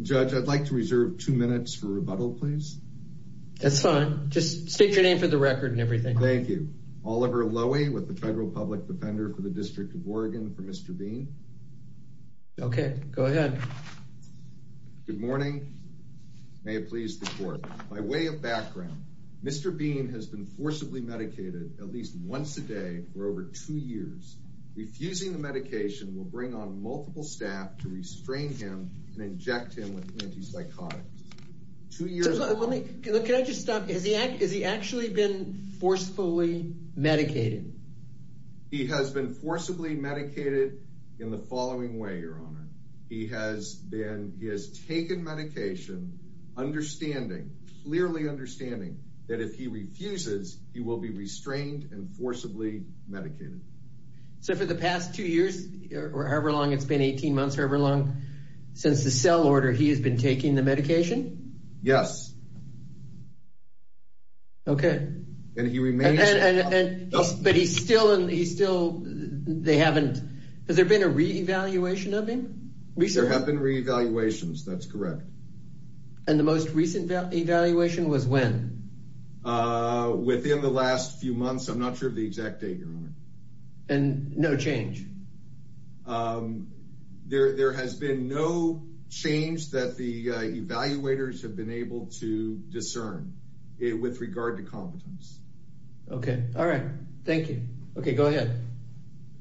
Judge, I'd like to reserve two minutes for rebuttal, please. That's fine. Just state your name for the record and everything. Thank you. Oliver Lowy with the Federal Public Defender for the District of Oregon for Mr. Bean. Okay, go ahead. Good morning. May it please the court. By way of background, Mr. Bean has been forcibly medicated at least once a day for over two years. Refusing the medication will bring on multiple staff to him with antipsychotics. Can I just stop? Has he actually been forcefully medicated? He has been forcibly medicated in the following way, Your Honor. He has been, he has taken medication understanding, clearly understanding that if he refuses, he will be restrained and forcibly medicated. So for the past two years or however long it's been, 18 months or however long since the cell order, he has been taking the medication? Yes. Okay. And he remains. But he's still, he's still, they haven't, has there been a re-evaluation of him? There have been re-evaluations, that's correct. And the most recent evaluation was when? Within the last few months. I'm not sure of the exact date, Your Honor. And no change? Um, there, there has been no change that the evaluators have been able to discern with regard to competence. Okay. All right. Thank you. Okay. Go ahead.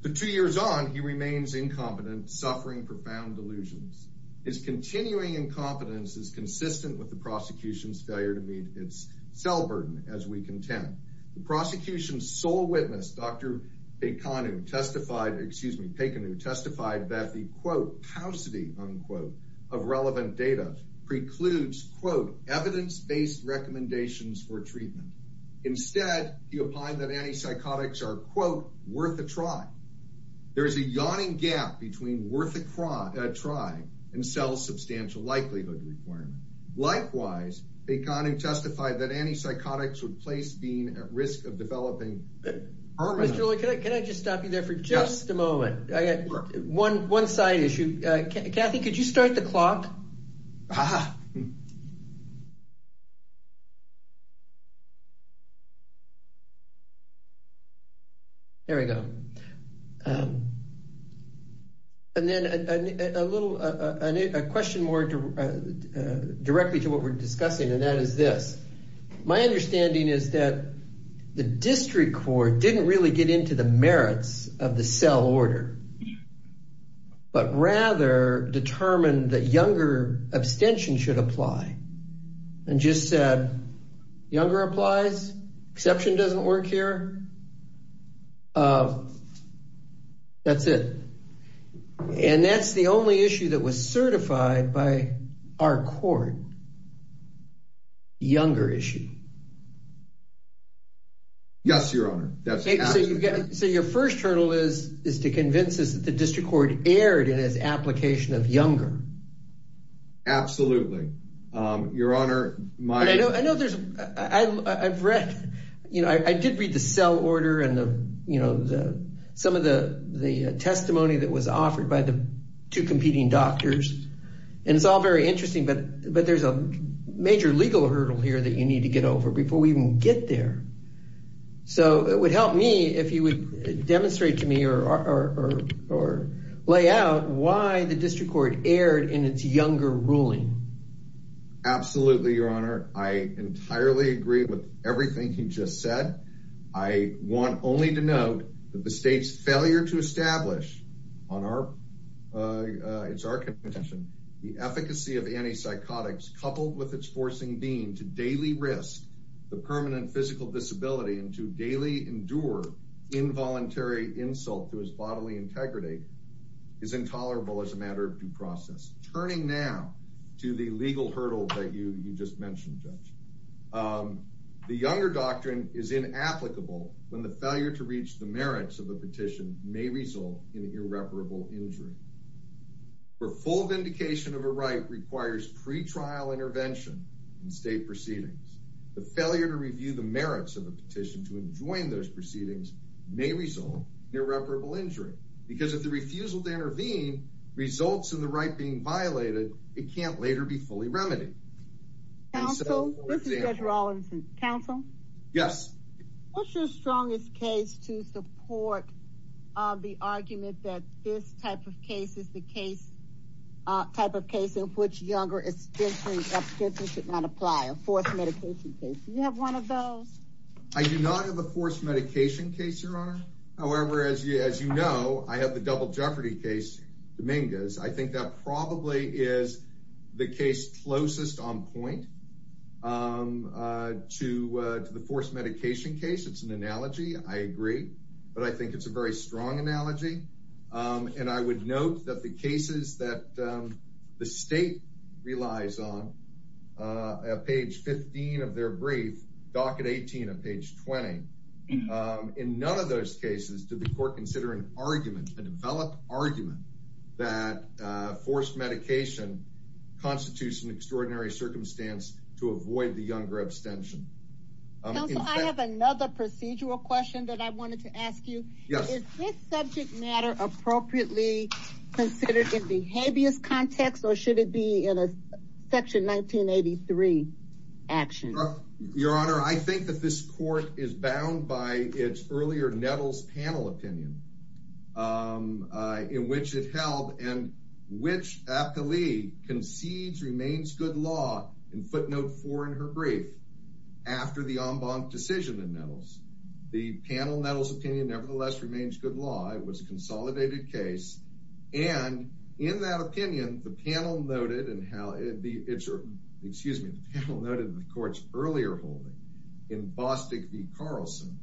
For two years on, he remains incompetent, suffering profound delusions. His continuing incompetence is consistent with the prosecution's failure to meet its cell burden, as we contend. The prosecution's witness, Dr. Pekanu testified, excuse me, Pekanu testified that the, quote, paucity, unquote, of relevant data precludes, quote, evidence-based recommendations for treatment. Instead, he opined that antipsychotics are, quote, worth a try. There is a yawning gap between worth a try and cell substantial likelihood requirement. Likewise, Pekanu testified that antipsychotics would place Dean at risk of developing. Mr. Lurie, can I just stop you there for just a moment? I got one side issue. Kathy, could you start the clock? There we go. And then a little, a question more directly to what we're discussing, and that is this. My understanding is that the district court didn't really get into the merits of the cell order, but rather determined that younger abstention should apply, and just said, younger applies? Exception doesn't work here? That's it. And that's the only issue that was younger issue? Yes, your honor. So your first hurdle is to convince us that the district court erred in its application of younger? Absolutely. Your honor, my- I know there's, I've read, you know, I did read the cell order and the, you know, some of the testimony that was offered by two competing doctors, and it's all very interesting, but there's a major legal hurdle here that you need to get over before we even get there. So it would help me if you would demonstrate to me or lay out why the district court erred in its younger ruling. Absolutely, your honor. I entirely agree with everything you just said. I want only to note that the state's established on our, it's our contention, the efficacy of anti-psychotics coupled with its forcing dean to daily risk the permanent physical disability and to daily endure involuntary insult to his bodily integrity is intolerable as a matter of due process. Turning now to the legal hurdle that you just mentioned, judge. The younger doctrine is inapplicable when the failure to in an irreparable injury. For full vindication of a right requires pre-trial intervention and state proceedings. The failure to review the merits of a petition to enjoin those proceedings may result in irreparable injury because if the refusal to intervene results in the right being violated, it can't later be fully remedied. Counsel, this is Judge Rawlinson. Counsel? Yes. What's your strongest case to support, uh, the argument that this type of case is the case, uh, type of case in which younger extension should not apply? A forced medication case. Do you have one of those? I do not have a forced medication case, your honor. However, as you, as you know, I have the double jeopardy case, Dominguez. I think that probably is the case closest on point, um, uh, to, uh, to the forced medication case. It's an analogy. I agree, but I think it's a very strong analogy. Um, and I would note that the cases that, um, the state relies on, uh, page 15 of their brief docket 18 of page 20. Um, in none of those cases, did the court consider an argument, a developed argument that, uh, forced medication constitutes an extraordinary circumstance to avoid the younger abstention? I have another procedural question that I wanted to ask you. Is this subject matter appropriately considered in behaviorist context, or should it be in a section 1983 action? Your honor. I think that this court is bound by its earlier Nettles panel opinion, um, uh, in which it held and which appellee concedes remains good law in footnote four in her brief after the en banc decision in Nettles. The panel Nettles opinion nevertheless remains good law. It was a consolidated case. And in that opinion, the panel noted and how the excuse me, the panel noted in the court's earlier holding in Bostic v. Carlson,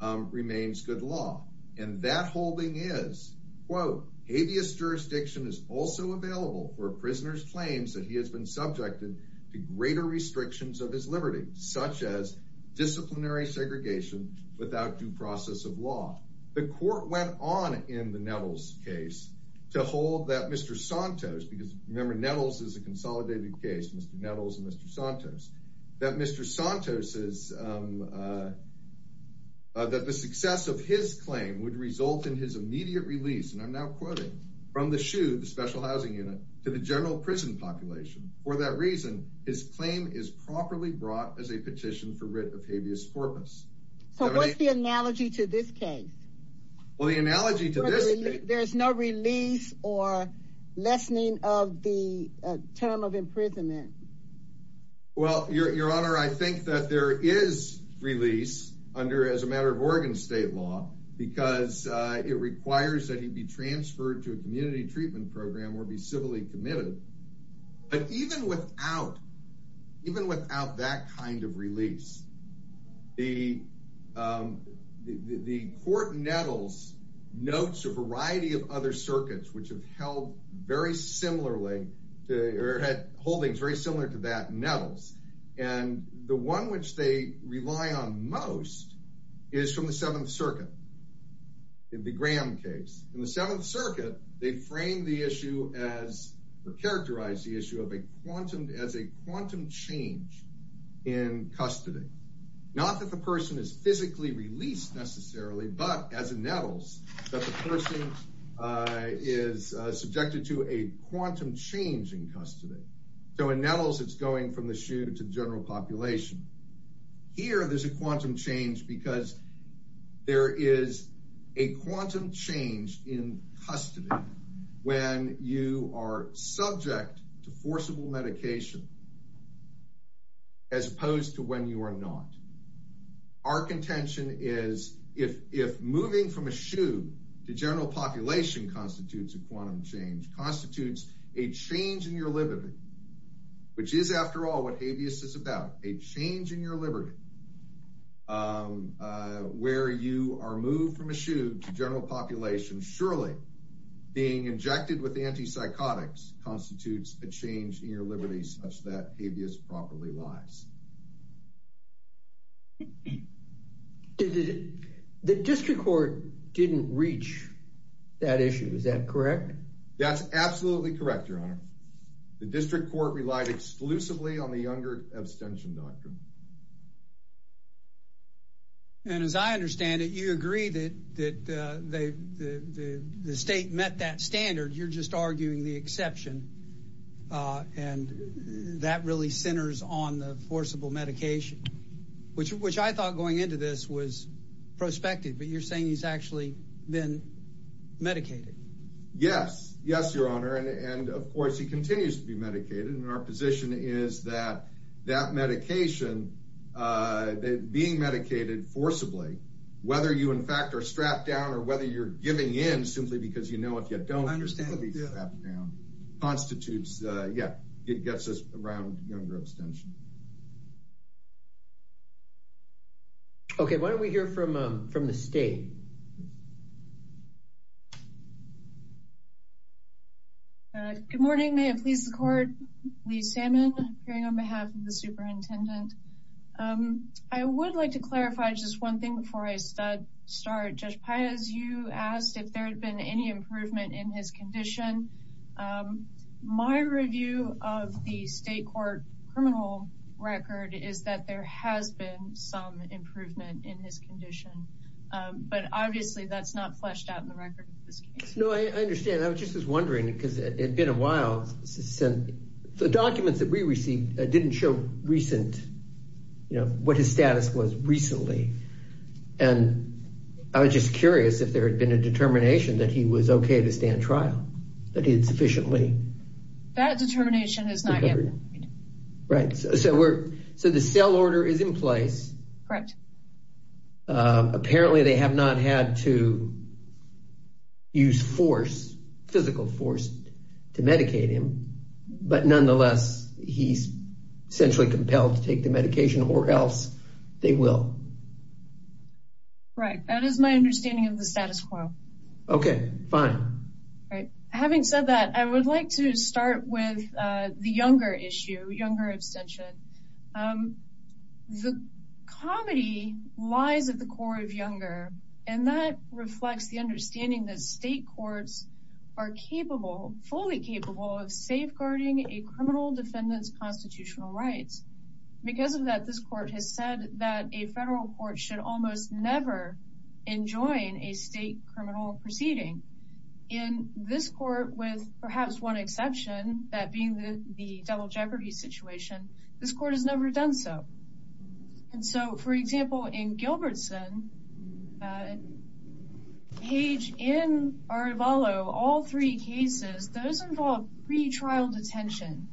um, remains good law. And that holding is quote, habeas jurisdiction is also available for prisoners claims that he has been subjected to greater restrictions of his liberty, such as disciplinary segregation without due process of law. The court went on in the Nettles case to hold that Mr Santos, because remember Nettles is a consolidated case, Mr Nettles and Mr Santos, that Mr Santos is, um, uh, that the success of his claim would result in his immediate release. And I'm now quoting from the shoe, the special housing unit to the general prison population. For that reason, his claim is properly brought as a petition for writ of habeas corpus. So what's the analogy to this case? Well, the analogy to this, there's no release or lessening of the term of imprisonment. Well, your honor, I think that there is release under as a matter of Oregon state law, because it requires that he be transferred to a community treatment program or be civilly committed. But even without even without that kind of release, the, um, the court Nettles notes a variety of other circuits, which have held very similarly to or had holdings very similar to that Nettles. And the one which they rely on most is from the Seventh Circuit. In the Graham case in the Seventh Circuit, they framed the issue as or characterized the issue of a quantum as a quantum change in custody. Not that the person is physically released necessarily, but as a Nettles, that the person is subjected to a quantum change in custody. So in Nettles, it's going from the shoe to the general population. Here, there's a quantum change because there is a quantum change in custody. When you are subject to forcible medication, as opposed to when you are not, our contention is if, if moving from a shoe to general population constitutes a quantum change constitutes a change in your liberty, which is after all, what habeas is about a change in your liberty, um, uh, where you are moved from a shoe to general population. Surely being injected with the anti-psychotics constitutes a change in your liberties, such that habeas properly lies. The district court didn't reach that issue. Is that correct? That's absolutely correct. Your honor, the district court relied exclusively on the younger abstention doctrine. And as I understand it, you agree that, that, uh, they, the, the, the state met that standard. You're just arguing the exception. Uh, and that really centers on the forcible medication, which, which I thought going into this was prospective, but you're saying he's actually been medicated. Yes. Yes, your honor. And, and of course he continues to be medicated. Our position is that that medication, uh, that being medicated forcibly, whether you, in fact, are strapped down or whether you're giving in simply because you know, if you don't constitutes, uh, yeah, it gets us around younger abstention. Okay. Why don't we hear from, um, from the state? Uh, good morning, may it please the court, Lee Salmon hearing on behalf of the superintendent. Um, I would like to clarify just one thing before I start, Judge Piaz, you asked if there had been any improvement in his condition. Um, my review of the state court criminal record is that there has been some improvement in his condition. Um, but obviously that's not fleshed out in the record. No, I understand. I was just wondering because it had been a while since the documents that we received didn't show recent, you know, what his status was recently. And I was just curious if there had been a determination that he was okay to stand trial that he had sufficiently. That determination is not yet. Right. So, so we're, so the cell order is in place. Correct. Um, apparently they have not had to use force, physical force to medicate him, but nonetheless, he's centrally compelled to take the medication or else they will. Right. That is my understanding of the status quo. Okay, fine. Right. Having said that, I would like to start with, uh, the younger issue, younger abstention. Um, the comedy lies at the core of younger, and that reflects the understanding that state courts are capable, fully capable of safeguarding a criminal defendant's constitutional rights. Because of that, this court has said that a federal court should almost never enjoin a state criminal proceeding in this court with perhaps one exception, that being the double jeopardy situation, this court has never done so. And so for example, in Gilbertson, uh, page in our follow all three cases, those involved pre-trial detention.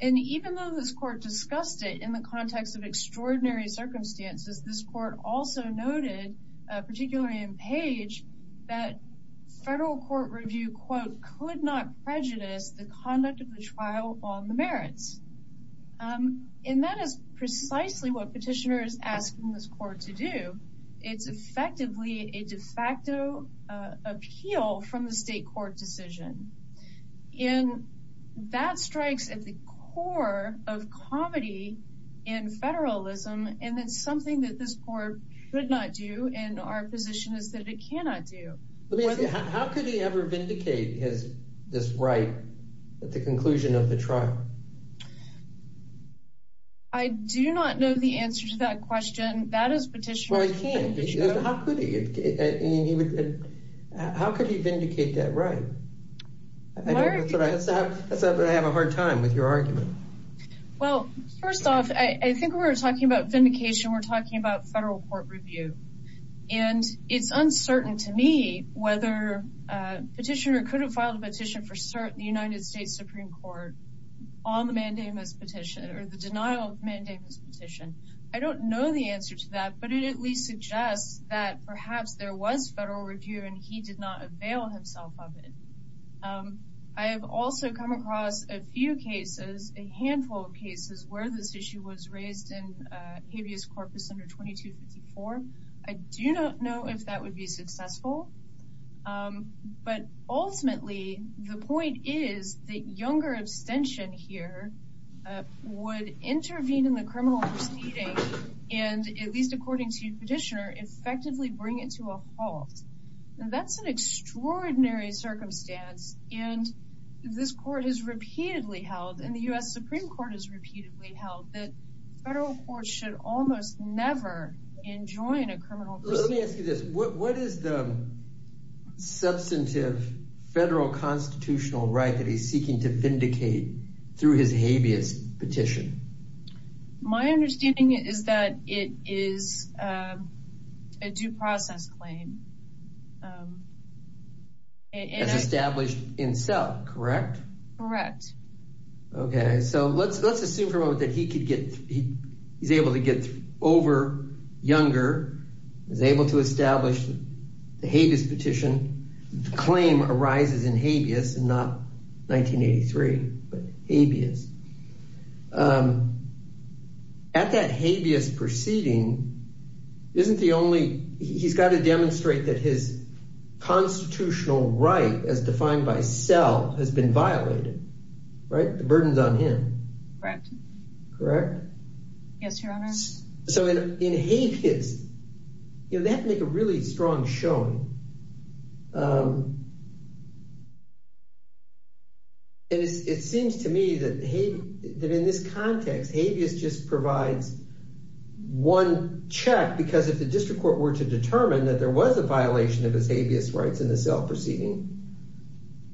And even though this court discussed it in the context of extraordinary circumstances, this court also noted, uh, particularly in page that federal court review quote, could not prejudice the conduct of the trial on the merits. Um, and that is precisely what petitioner is asking this court to do. It's effectively a de facto, uh, appeal from the state court decision in that strikes at the core of comedy in federalism. And that's something that this court could not do. And our position is that it cannot do. How could he ever vindicate his, this right at the conclusion of the trial? I do not know the answer to that question. That is petitioner. How could he, how could he vindicate that? Right. I have a hard time with your argument. Well, first off, I think we were talking about vindication. We're talking about federal court review and it's uncertain to me whether a petitioner couldn't file a petition for cert the United States Supreme court on the mandamus petition or the denial of mandamus petition. I don't know the answer to that, but it at least suggests that perhaps there was federal review and he did not avail himself of it. Um, I have also come across a few cases, a handful of cases where this issue was raised in a habeas corpus under 2254. I do not know if that would be successful. Um, but ultimately the point is that younger abstention here, uh, would intervene in the criminal proceeding. And at least according to petitioner, effectively bring it to a halt. And that's an extraordinary circumstance. And this court has repeatedly held in the U S Supreme court has repeatedly held that federal courts should almost never enjoin a criminal. Let me ask you this. What is the substantive federal constitutional right that he's seeking to My understanding is that it is, um, a due process claim, um, as established in cell, correct? Correct. Okay. So let's, let's assume for a moment that he could get, he's able to get over younger, is able to establish the habeas petition claim arises in but habeas, um, at that habeas proceeding, isn't the only, he's got to demonstrate that his constitutional right as defined by cell has been violated, right? The burden's on him, correct? Correct. Yes, your honor. So in, in habeas, you know, they have to make a really strong showing. Um, it is, it seems to me that he did in this context, habeas just provides one check because if the district court were to determine that there was a violation of his habeas rights in the cell proceeding,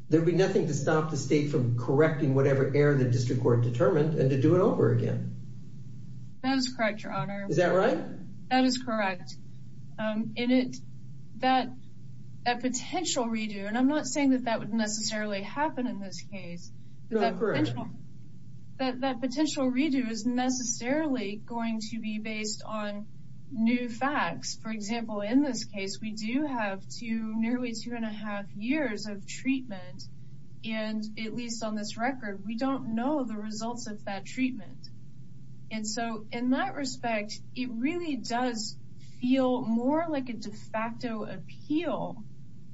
there'd be nothing to stop the state from correcting whatever error the district court determined and to do it over again. That is correct. Your honor. Is that right? That is correct. Um, in it, that, that potential redo, and I'm not saying that that would necessarily happen in this case, but that potential, that, that potential redo is necessarily going to be based on new facts. For example, in this case, we do have two, nearly two and a half years of treatment. And at least on this record, we don't know the results of that treatment. And so in that respect, it really does feel more like a de facto appeal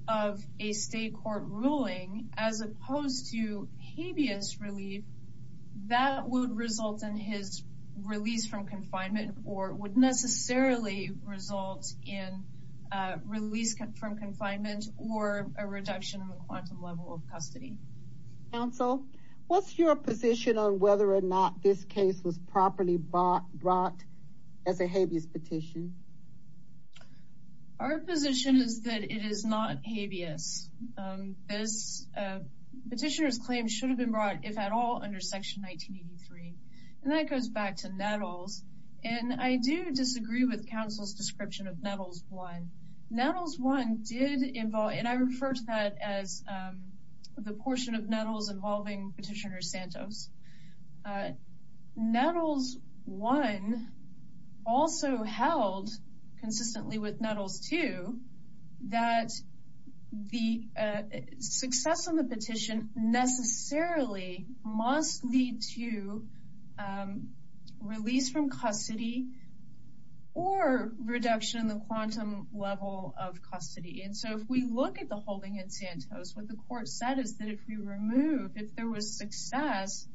of a state court ruling as opposed to habeas relief that would result in his release from confinement or would necessarily result in a release from confinement or a reduction in the quantum level of custody. Counsel, what's your position on whether or not this case was properly brought as a habeas petition? Our position is that it is not habeas. Um, this, uh, petitioner's claims should have been brought if at all under section 1983. And that goes back to Nettles. And I do disagree with counsel's Nettles 1. Nettles 1 did involve, and I refer to that as, um, the portion of Nettles involving petitioner Santos. Uh, Nettles 1 also held consistently with Nettles 2 that the, uh, success on the petition necessarily must lead to, um, release from custody or reduction in the quantum level of custody. And so if we look at the holding in Santos, what the court said is that if we remove, if there was success,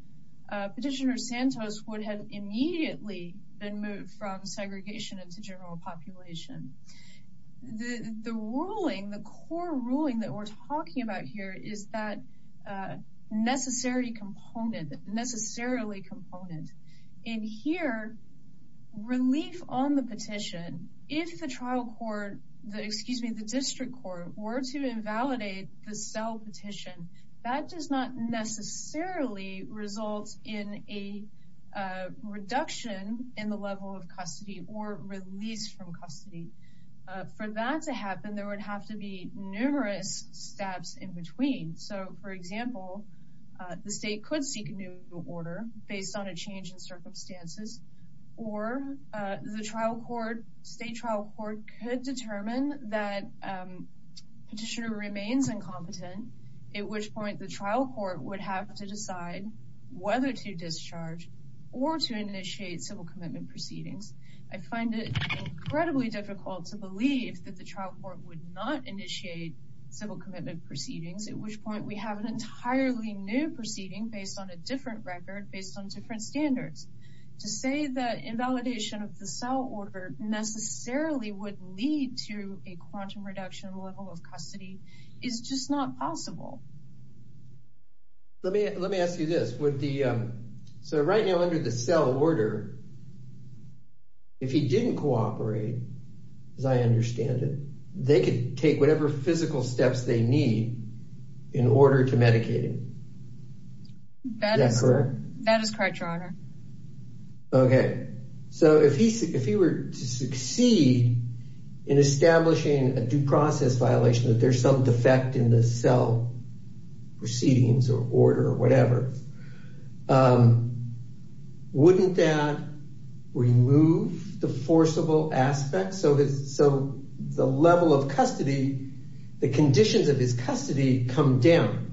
uh, petitioner Santos would have immediately been moved from segregation into general population. The, the ruling, the core ruling that we're talking about here is that, uh, necessary component necessarily component in here relief on the petition. If the trial court, the, excuse me, the district court were to invalidate the cell petition that does not necessarily result in a, uh, reduction in the level of custody or release from custody. Uh, for that to happen, there would have to be circumstances or, uh, the trial court state trial court could determine that, um, petitioner remains incompetent. At which point the trial court would have to decide whether to discharge or to initiate civil commitment proceedings. I find it incredibly difficult to believe that the trial court would not initiate civil commitment proceedings, at which point we have an entirely new proceeding based on a different record, based on different standards to say that invalidation of the cell order necessarily would lead to a quantum reduction level of custody is just not possible. Let me, let me ask you this with the, um, so right now under the cell order, if he didn't cooperate, as I understand it, they could take whatever physical steps they need in order to medicate him. That is correct. That is correct, your honor. Okay. So if he, if he were to succeed in establishing a due process violation, that there's some defect in the cell proceedings or order or whatever, um, wouldn't that remove the forcible aspect? So, so the level of custody, the conditions of his custody come down.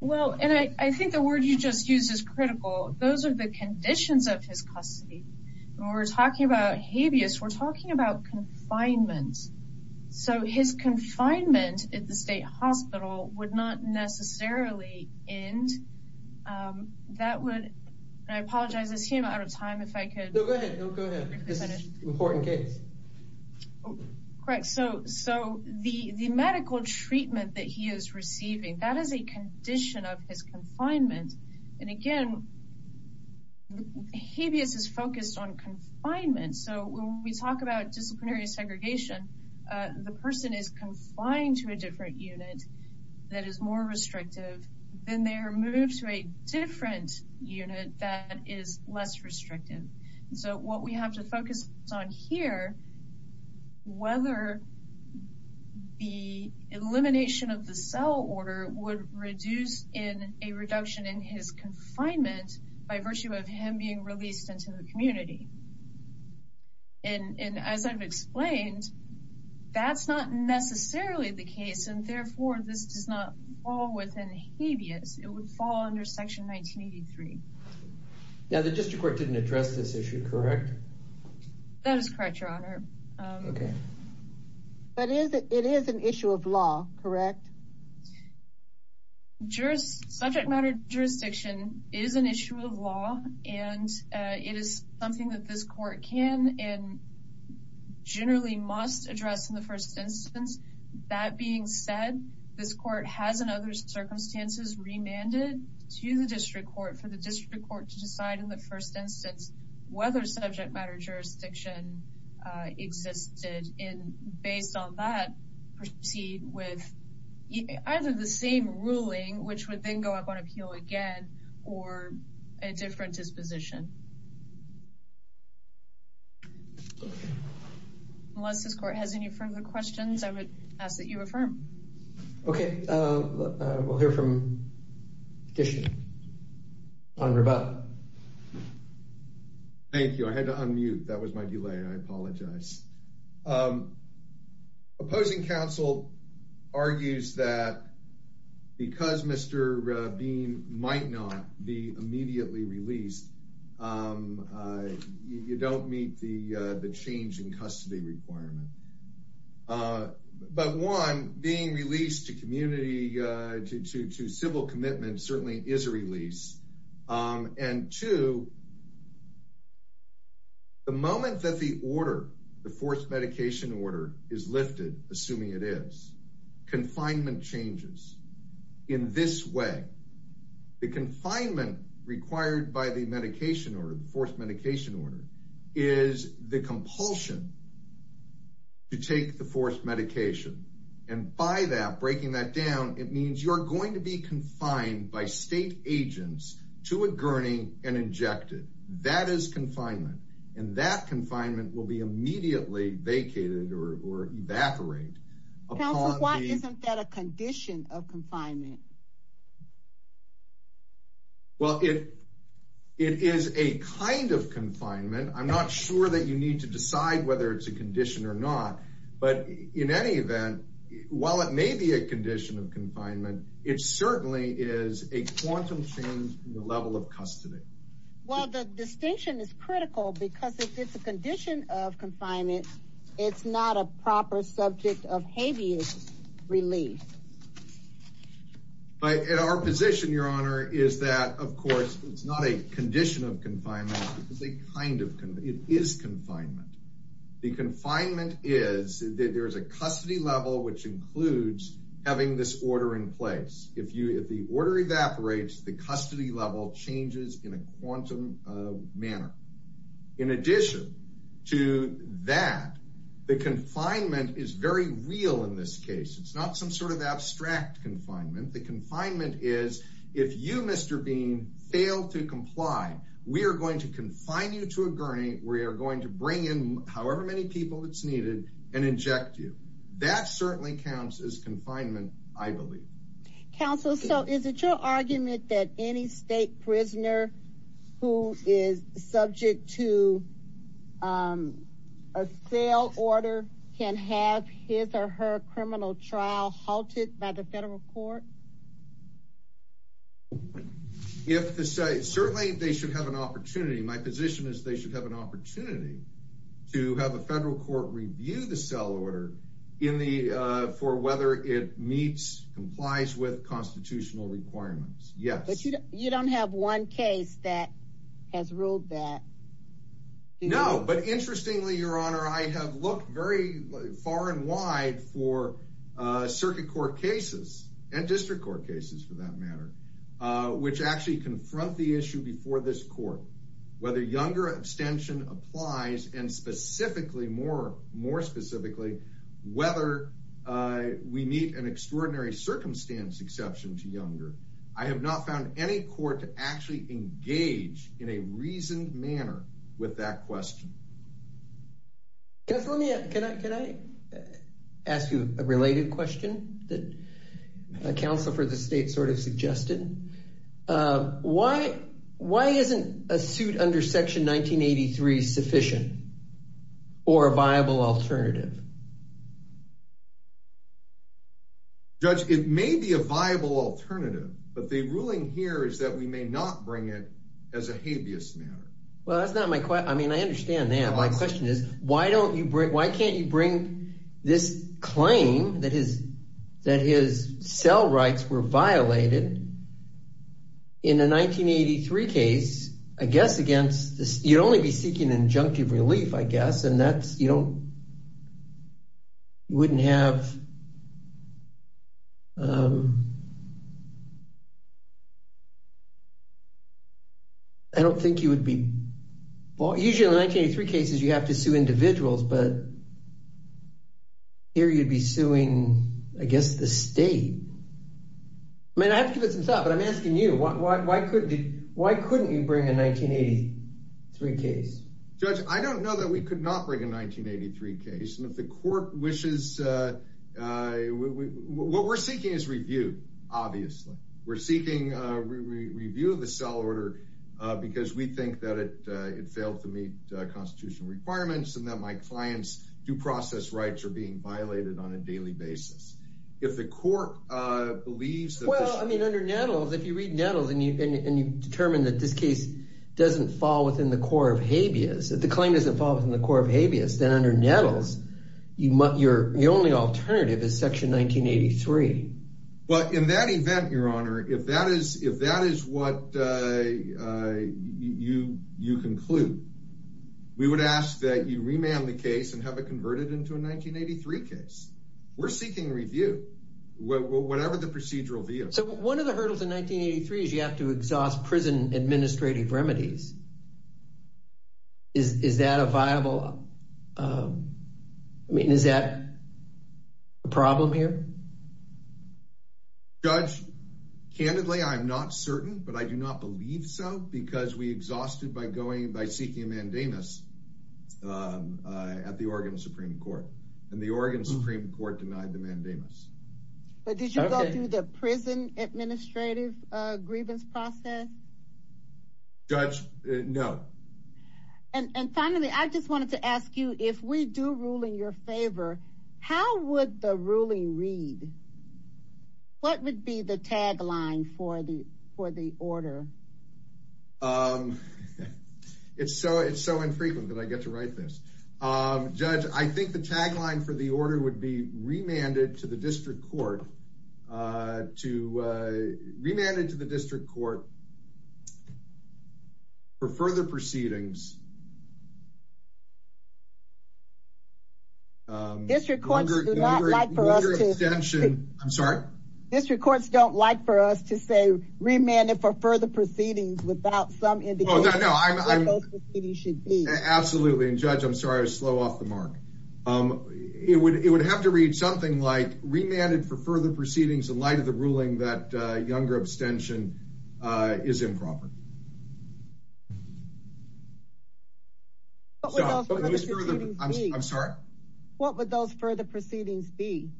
Well, and I, I think the word you just used is critical. Those are the conditions of his custody. And when we're talking about habeas, we're talking about confinement. So his confinement at the state hospital would not necessarily end. Um, that would, and I apologize, I see I'm out of time. If I could. No, go ahead. No, correct. So, so the, the medical treatment that he is receiving, that is a condition of his confinement. And again, habeas is focused on confinement. So when we talk about disciplinary segregation, uh, the person is confined to a different unit that is more restrictive than their move to a different unit that is less restrictive. So what we have to focus on here, whether the elimination of the cell order would reduce in a reduction in his confinement by virtue of him being released into the community. And, and as I've explained, that's not necessarily the case. And therefore this does not fall within habeas. It would fall under section 1983. Yeah. The district court didn't address this issue, correct? That is correct. Your honor. Um, okay. But is it, it is an issue of law, correct? Juris subject matter. Jurisdiction is an issue of law and, uh, it is something that this court can and generally must address in the first instance. That being said, this court has another circumstances remanded to the district court for the district court to decide in the first instance, whether subject matter jurisdiction, uh, existed in based on that proceed with either the same ruling, which would then go up on appeal again or a different disposition. Unless this court has any further questions, I would ask that you affirm. Okay. Uh, we'll hear from Dishon on rebuttal. Thank you. I had to unmute. That was my delay. I apologize. Um, opposing counsel argues that because Mr. Bean might not be immediately released, um, uh, you don't meet the change in custody requirement. Uh, but one being released to community, uh, to, to, to civil commitment certainly is a release. Um, and two, the moment that the order, the fourth medication order is lifted, assuming it is confinement changes in this way, the confinement required by the medication or the fourth medication order is the compulsion to take the fourth medication. And by that breaking that down, it means you're going to be confined by state agents to a gurney and injected that is confinement. And that confinement will be immediately vacated or, or evaporate. Well, it, it is a kind of confinement. I'm not sure that you need to decide whether it's a condition or not, but in any event, while it may be a condition of confinement, it certainly is a quantum change in the level of custody. Well, the distinction is critical because if it's a condition of confinement, it's not a proper subject of habeas relief. Okay. But our position, your honor, is that of course, it's not a condition of confinement because they kind of can, it is confinement. The confinement is that there's a custody level, which includes having this order in place. If you, if the order evaporates, the custody level changes in a quantum, uh, manner. In addition to that, the confinement is very real in this case. It's not some sort of abstract confinement. The confinement is if you, Mr. Bean fail to comply, we are going to confine you to a gurney. We are going to bring in however many people it's needed and inject you. That certainly counts as confinement. I believe. Counsel. So is it your argument that any state prisoner who is subject to, um, a sale order can have his or her criminal trial halted by the federal court? If the site, certainly they should have an opportunity. My position is they should have an opportunity to have a federal court review the cell order in the, uh, for whether it meets complies with constitutional requirements. Yes. You don't have one case that has ruled that. No, but interestingly, your honor, I have looked very far and wide for, uh, circuit court cases and district court cases for that matter, uh, which actually confront the issue before this court, whether younger abstention applies and specifically more, more specifically, whether, uh, we meet an extraordinary circumstance exception to younger. I have not found any court to actually engage in a reasoned manner with that question. Just let me, can I, can I ask you a related question that a counselor for the state sort of suggested? Uh, why, why isn't a suit under section 1983 sufficient or a viable alternative? Judge, it may be a viable alternative, but the ruling here is that we may not bring it as a habeas matter. Well, that's not my question. I mean, I understand that. My question is, why don't you bring, why can't you bring this claim that his, that his cell rights were violated in a 1983 case, I guess, against this, you'd only be seeking an injunctive relief, I guess. And that's, you don't, you wouldn't have, um, I don't think you would be, well, usually in 1983 cases, you have to sue individuals, but here you'd be suing, I guess, the state. I mean, I have to give it some thought, but I'm asking you, why, why, why could, why couldn't you bring a 1983 case? Judge, I don't know that we could not bring a 1983 case. And if the court wishes, uh, uh, what we're seeking is review. Obviously we're seeking a review of the cell order, uh, because we think that it, uh, it failed to meet constitutional requirements and that my clients due process rights are being violated on a daily basis. If the court, uh, believes that. Well, I mean, under Nettles, if you read Nettles and you, and you determine that this case doesn't fall within the core of habeas, if the claim doesn't fall within the core of habeas, then under Nettles, you might, your, your only alternative is section 1983. But in that event, your honor, if that is, if that is what, uh, uh, you, you conclude, we would ask that you remand the case and have it converted into a 1983 case. We're seeking review, whatever the procedural So one of the hurdles in 1983 is you have to exhaust prison administrative remedies. Is that a viable, um, I mean, is that a problem here? Judge candidly, I'm not certain, but I do not believe so because we exhausted by going by seeking a mandamus, um, uh, at the Oregon Supreme court and the Oregon Supreme court denied the prison administrative, uh, grievance process. Judge no. And, and finally, I just wanted to ask you if we do ruling your favor, how would the ruling read? What would be the tagline for the, for the order? Um, it's so, it's so infrequent that I get to write this. Um, judge, I think the tagline for the order would be remanded to the district court, uh, to, uh, remanded to the district court for further proceedings. Um, district courts do not like for us. I'm sorry. District courts don't like for us to say remanded for further proceedings without some indication of what those proceedings should be. Absolutely. And judge, I'm sorry. I was slow off the mark. Um, it would, it would have to read something like remanded for further proceedings in light of the ruling that, uh, younger abstention, uh, is improper. I'm sorry. What would those further proceedings be?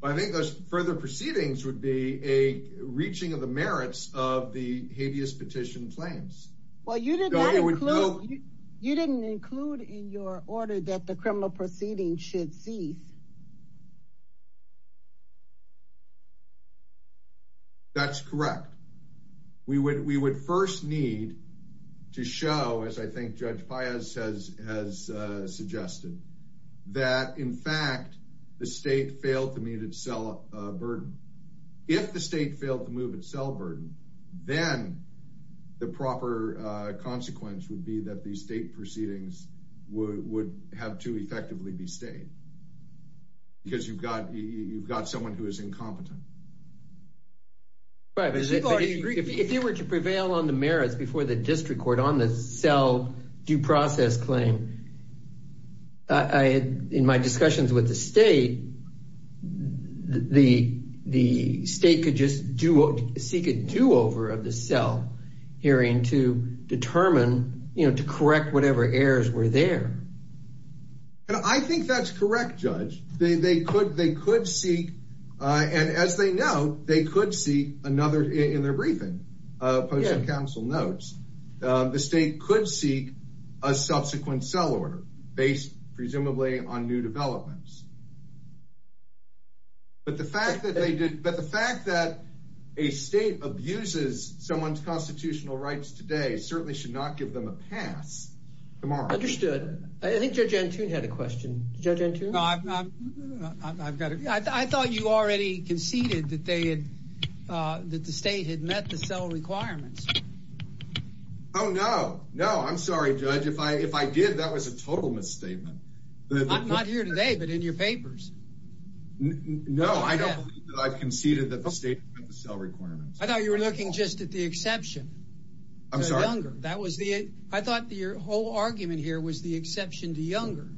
Well, I think those further proceedings would be a reaching of the merits of the include in your order that the criminal proceeding should cease. That's correct. We would, we would first need to show, as I think judge Piaz has, has, uh, suggested that in fact, the state failed to meet itself, uh, burden. If the state failed to move itself burden, then the proper, uh, consequence would be that the state proceedings would, would have to effectively be stayed because you've got, you've got someone who is incompetent. If they were to prevail on the merits before the district court on the cell due process claim, I, in my discussions with the state, the, the state could just do a, seek a do-over of the cell hearing to determine, you know, to correct whatever errors were there. And I think that's correct, judge. They, they could, they could seek, uh, and as they know, they could see another in their briefing, uh, post-council notes, uh, the state could seek a subsequent cell order based presumably on new developments. But the fact that they did, but the fact that a state abuses someone's constitutional rights today certainly should not give them a pass tomorrow. Understood. I think judge Antune had a question. Judge Antune? I've got it. I thought you already conceded that they had, uh, that the state had met the cell requirements. Oh, no, no. I'm sorry, judge. If I, if I did, that was a total misstatement. Not here today, but in your papers. No, I don't believe that I've conceded that the state met the cell requirements. I thought you were looking just at the exception. I'm sorry. That was the, I thought your whole argument here was the exception to Younger.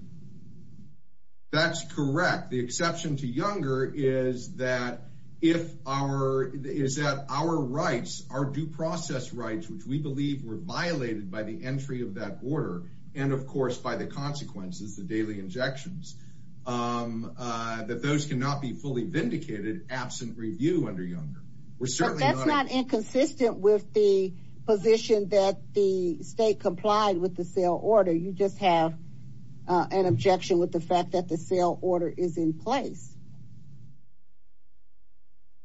That's correct. The exception to Younger is that if our, is that our rights, our due process rights, which we believe were violated by the entry of that order. And of course, by the consequences, the daily injections, um, uh, that those can not be fully vindicated absent review under Younger. We're certainly not inconsistent with the position that the state complied with the cell order. You just have, uh, an objection with the fact that the cell order is in place.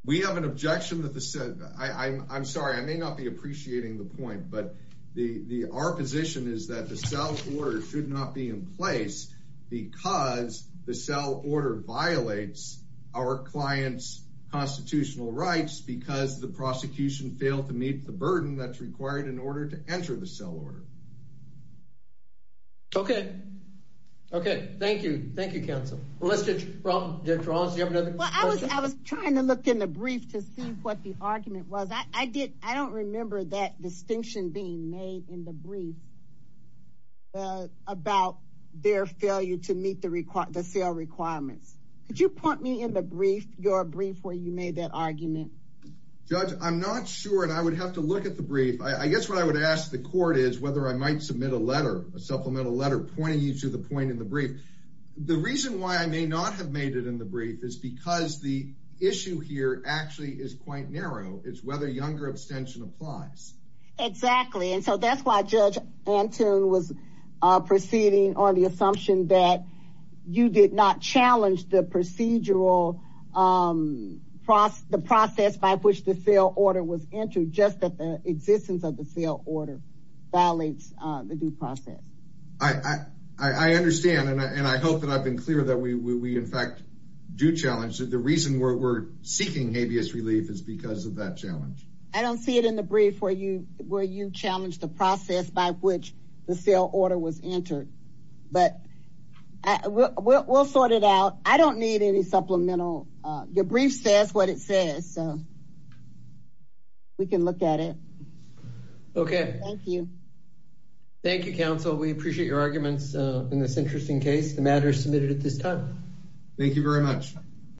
We have an objection that the, I I'm, I'm sorry, I may not be appreciating the point, but the, the, our position is that the cell order should not be in place because the cell order violates our client's constitutional rights because the prosecution failed to meet the Okay. Okay. Thank you. Thank you. Counsel. Well, let's get wrong. Do you have another question? I was trying to look in the brief to see what the argument was. I did. I don't remember that distinction being made in the brief, uh, about their failure to meet the requirements, the cell requirements. Could you point me in the brief, your brief where you made that argument? Judge, I'm not sure. And I would have to look at the brief. I guess what I would ask the court is I might submit a letter, a supplemental letter pointing you to the point in the brief. The reason why I may not have made it in the brief is because the issue here actually is quite narrow. It's whether younger abstention applies. Exactly. And so that's why judge Antoon was, uh, proceeding on the assumption that you did not challenge the procedural, um, process, the process by which the cell order was entered, just that the existence of the order violates, uh, the due process. I, I, I understand. And I, and I hope that I've been clear that we, we, we in fact do challenge that the reason we're, we're seeking habeas relief is because of that challenge. I don't see it in the brief where you, where you challenged the process by which the cell order was entered, but we'll, we'll, we'll sort it out. I don't need any Thank you. Thank you, counsel. We appreciate your arguments in this interesting case. The matter is submitted at this time. Thank you very much.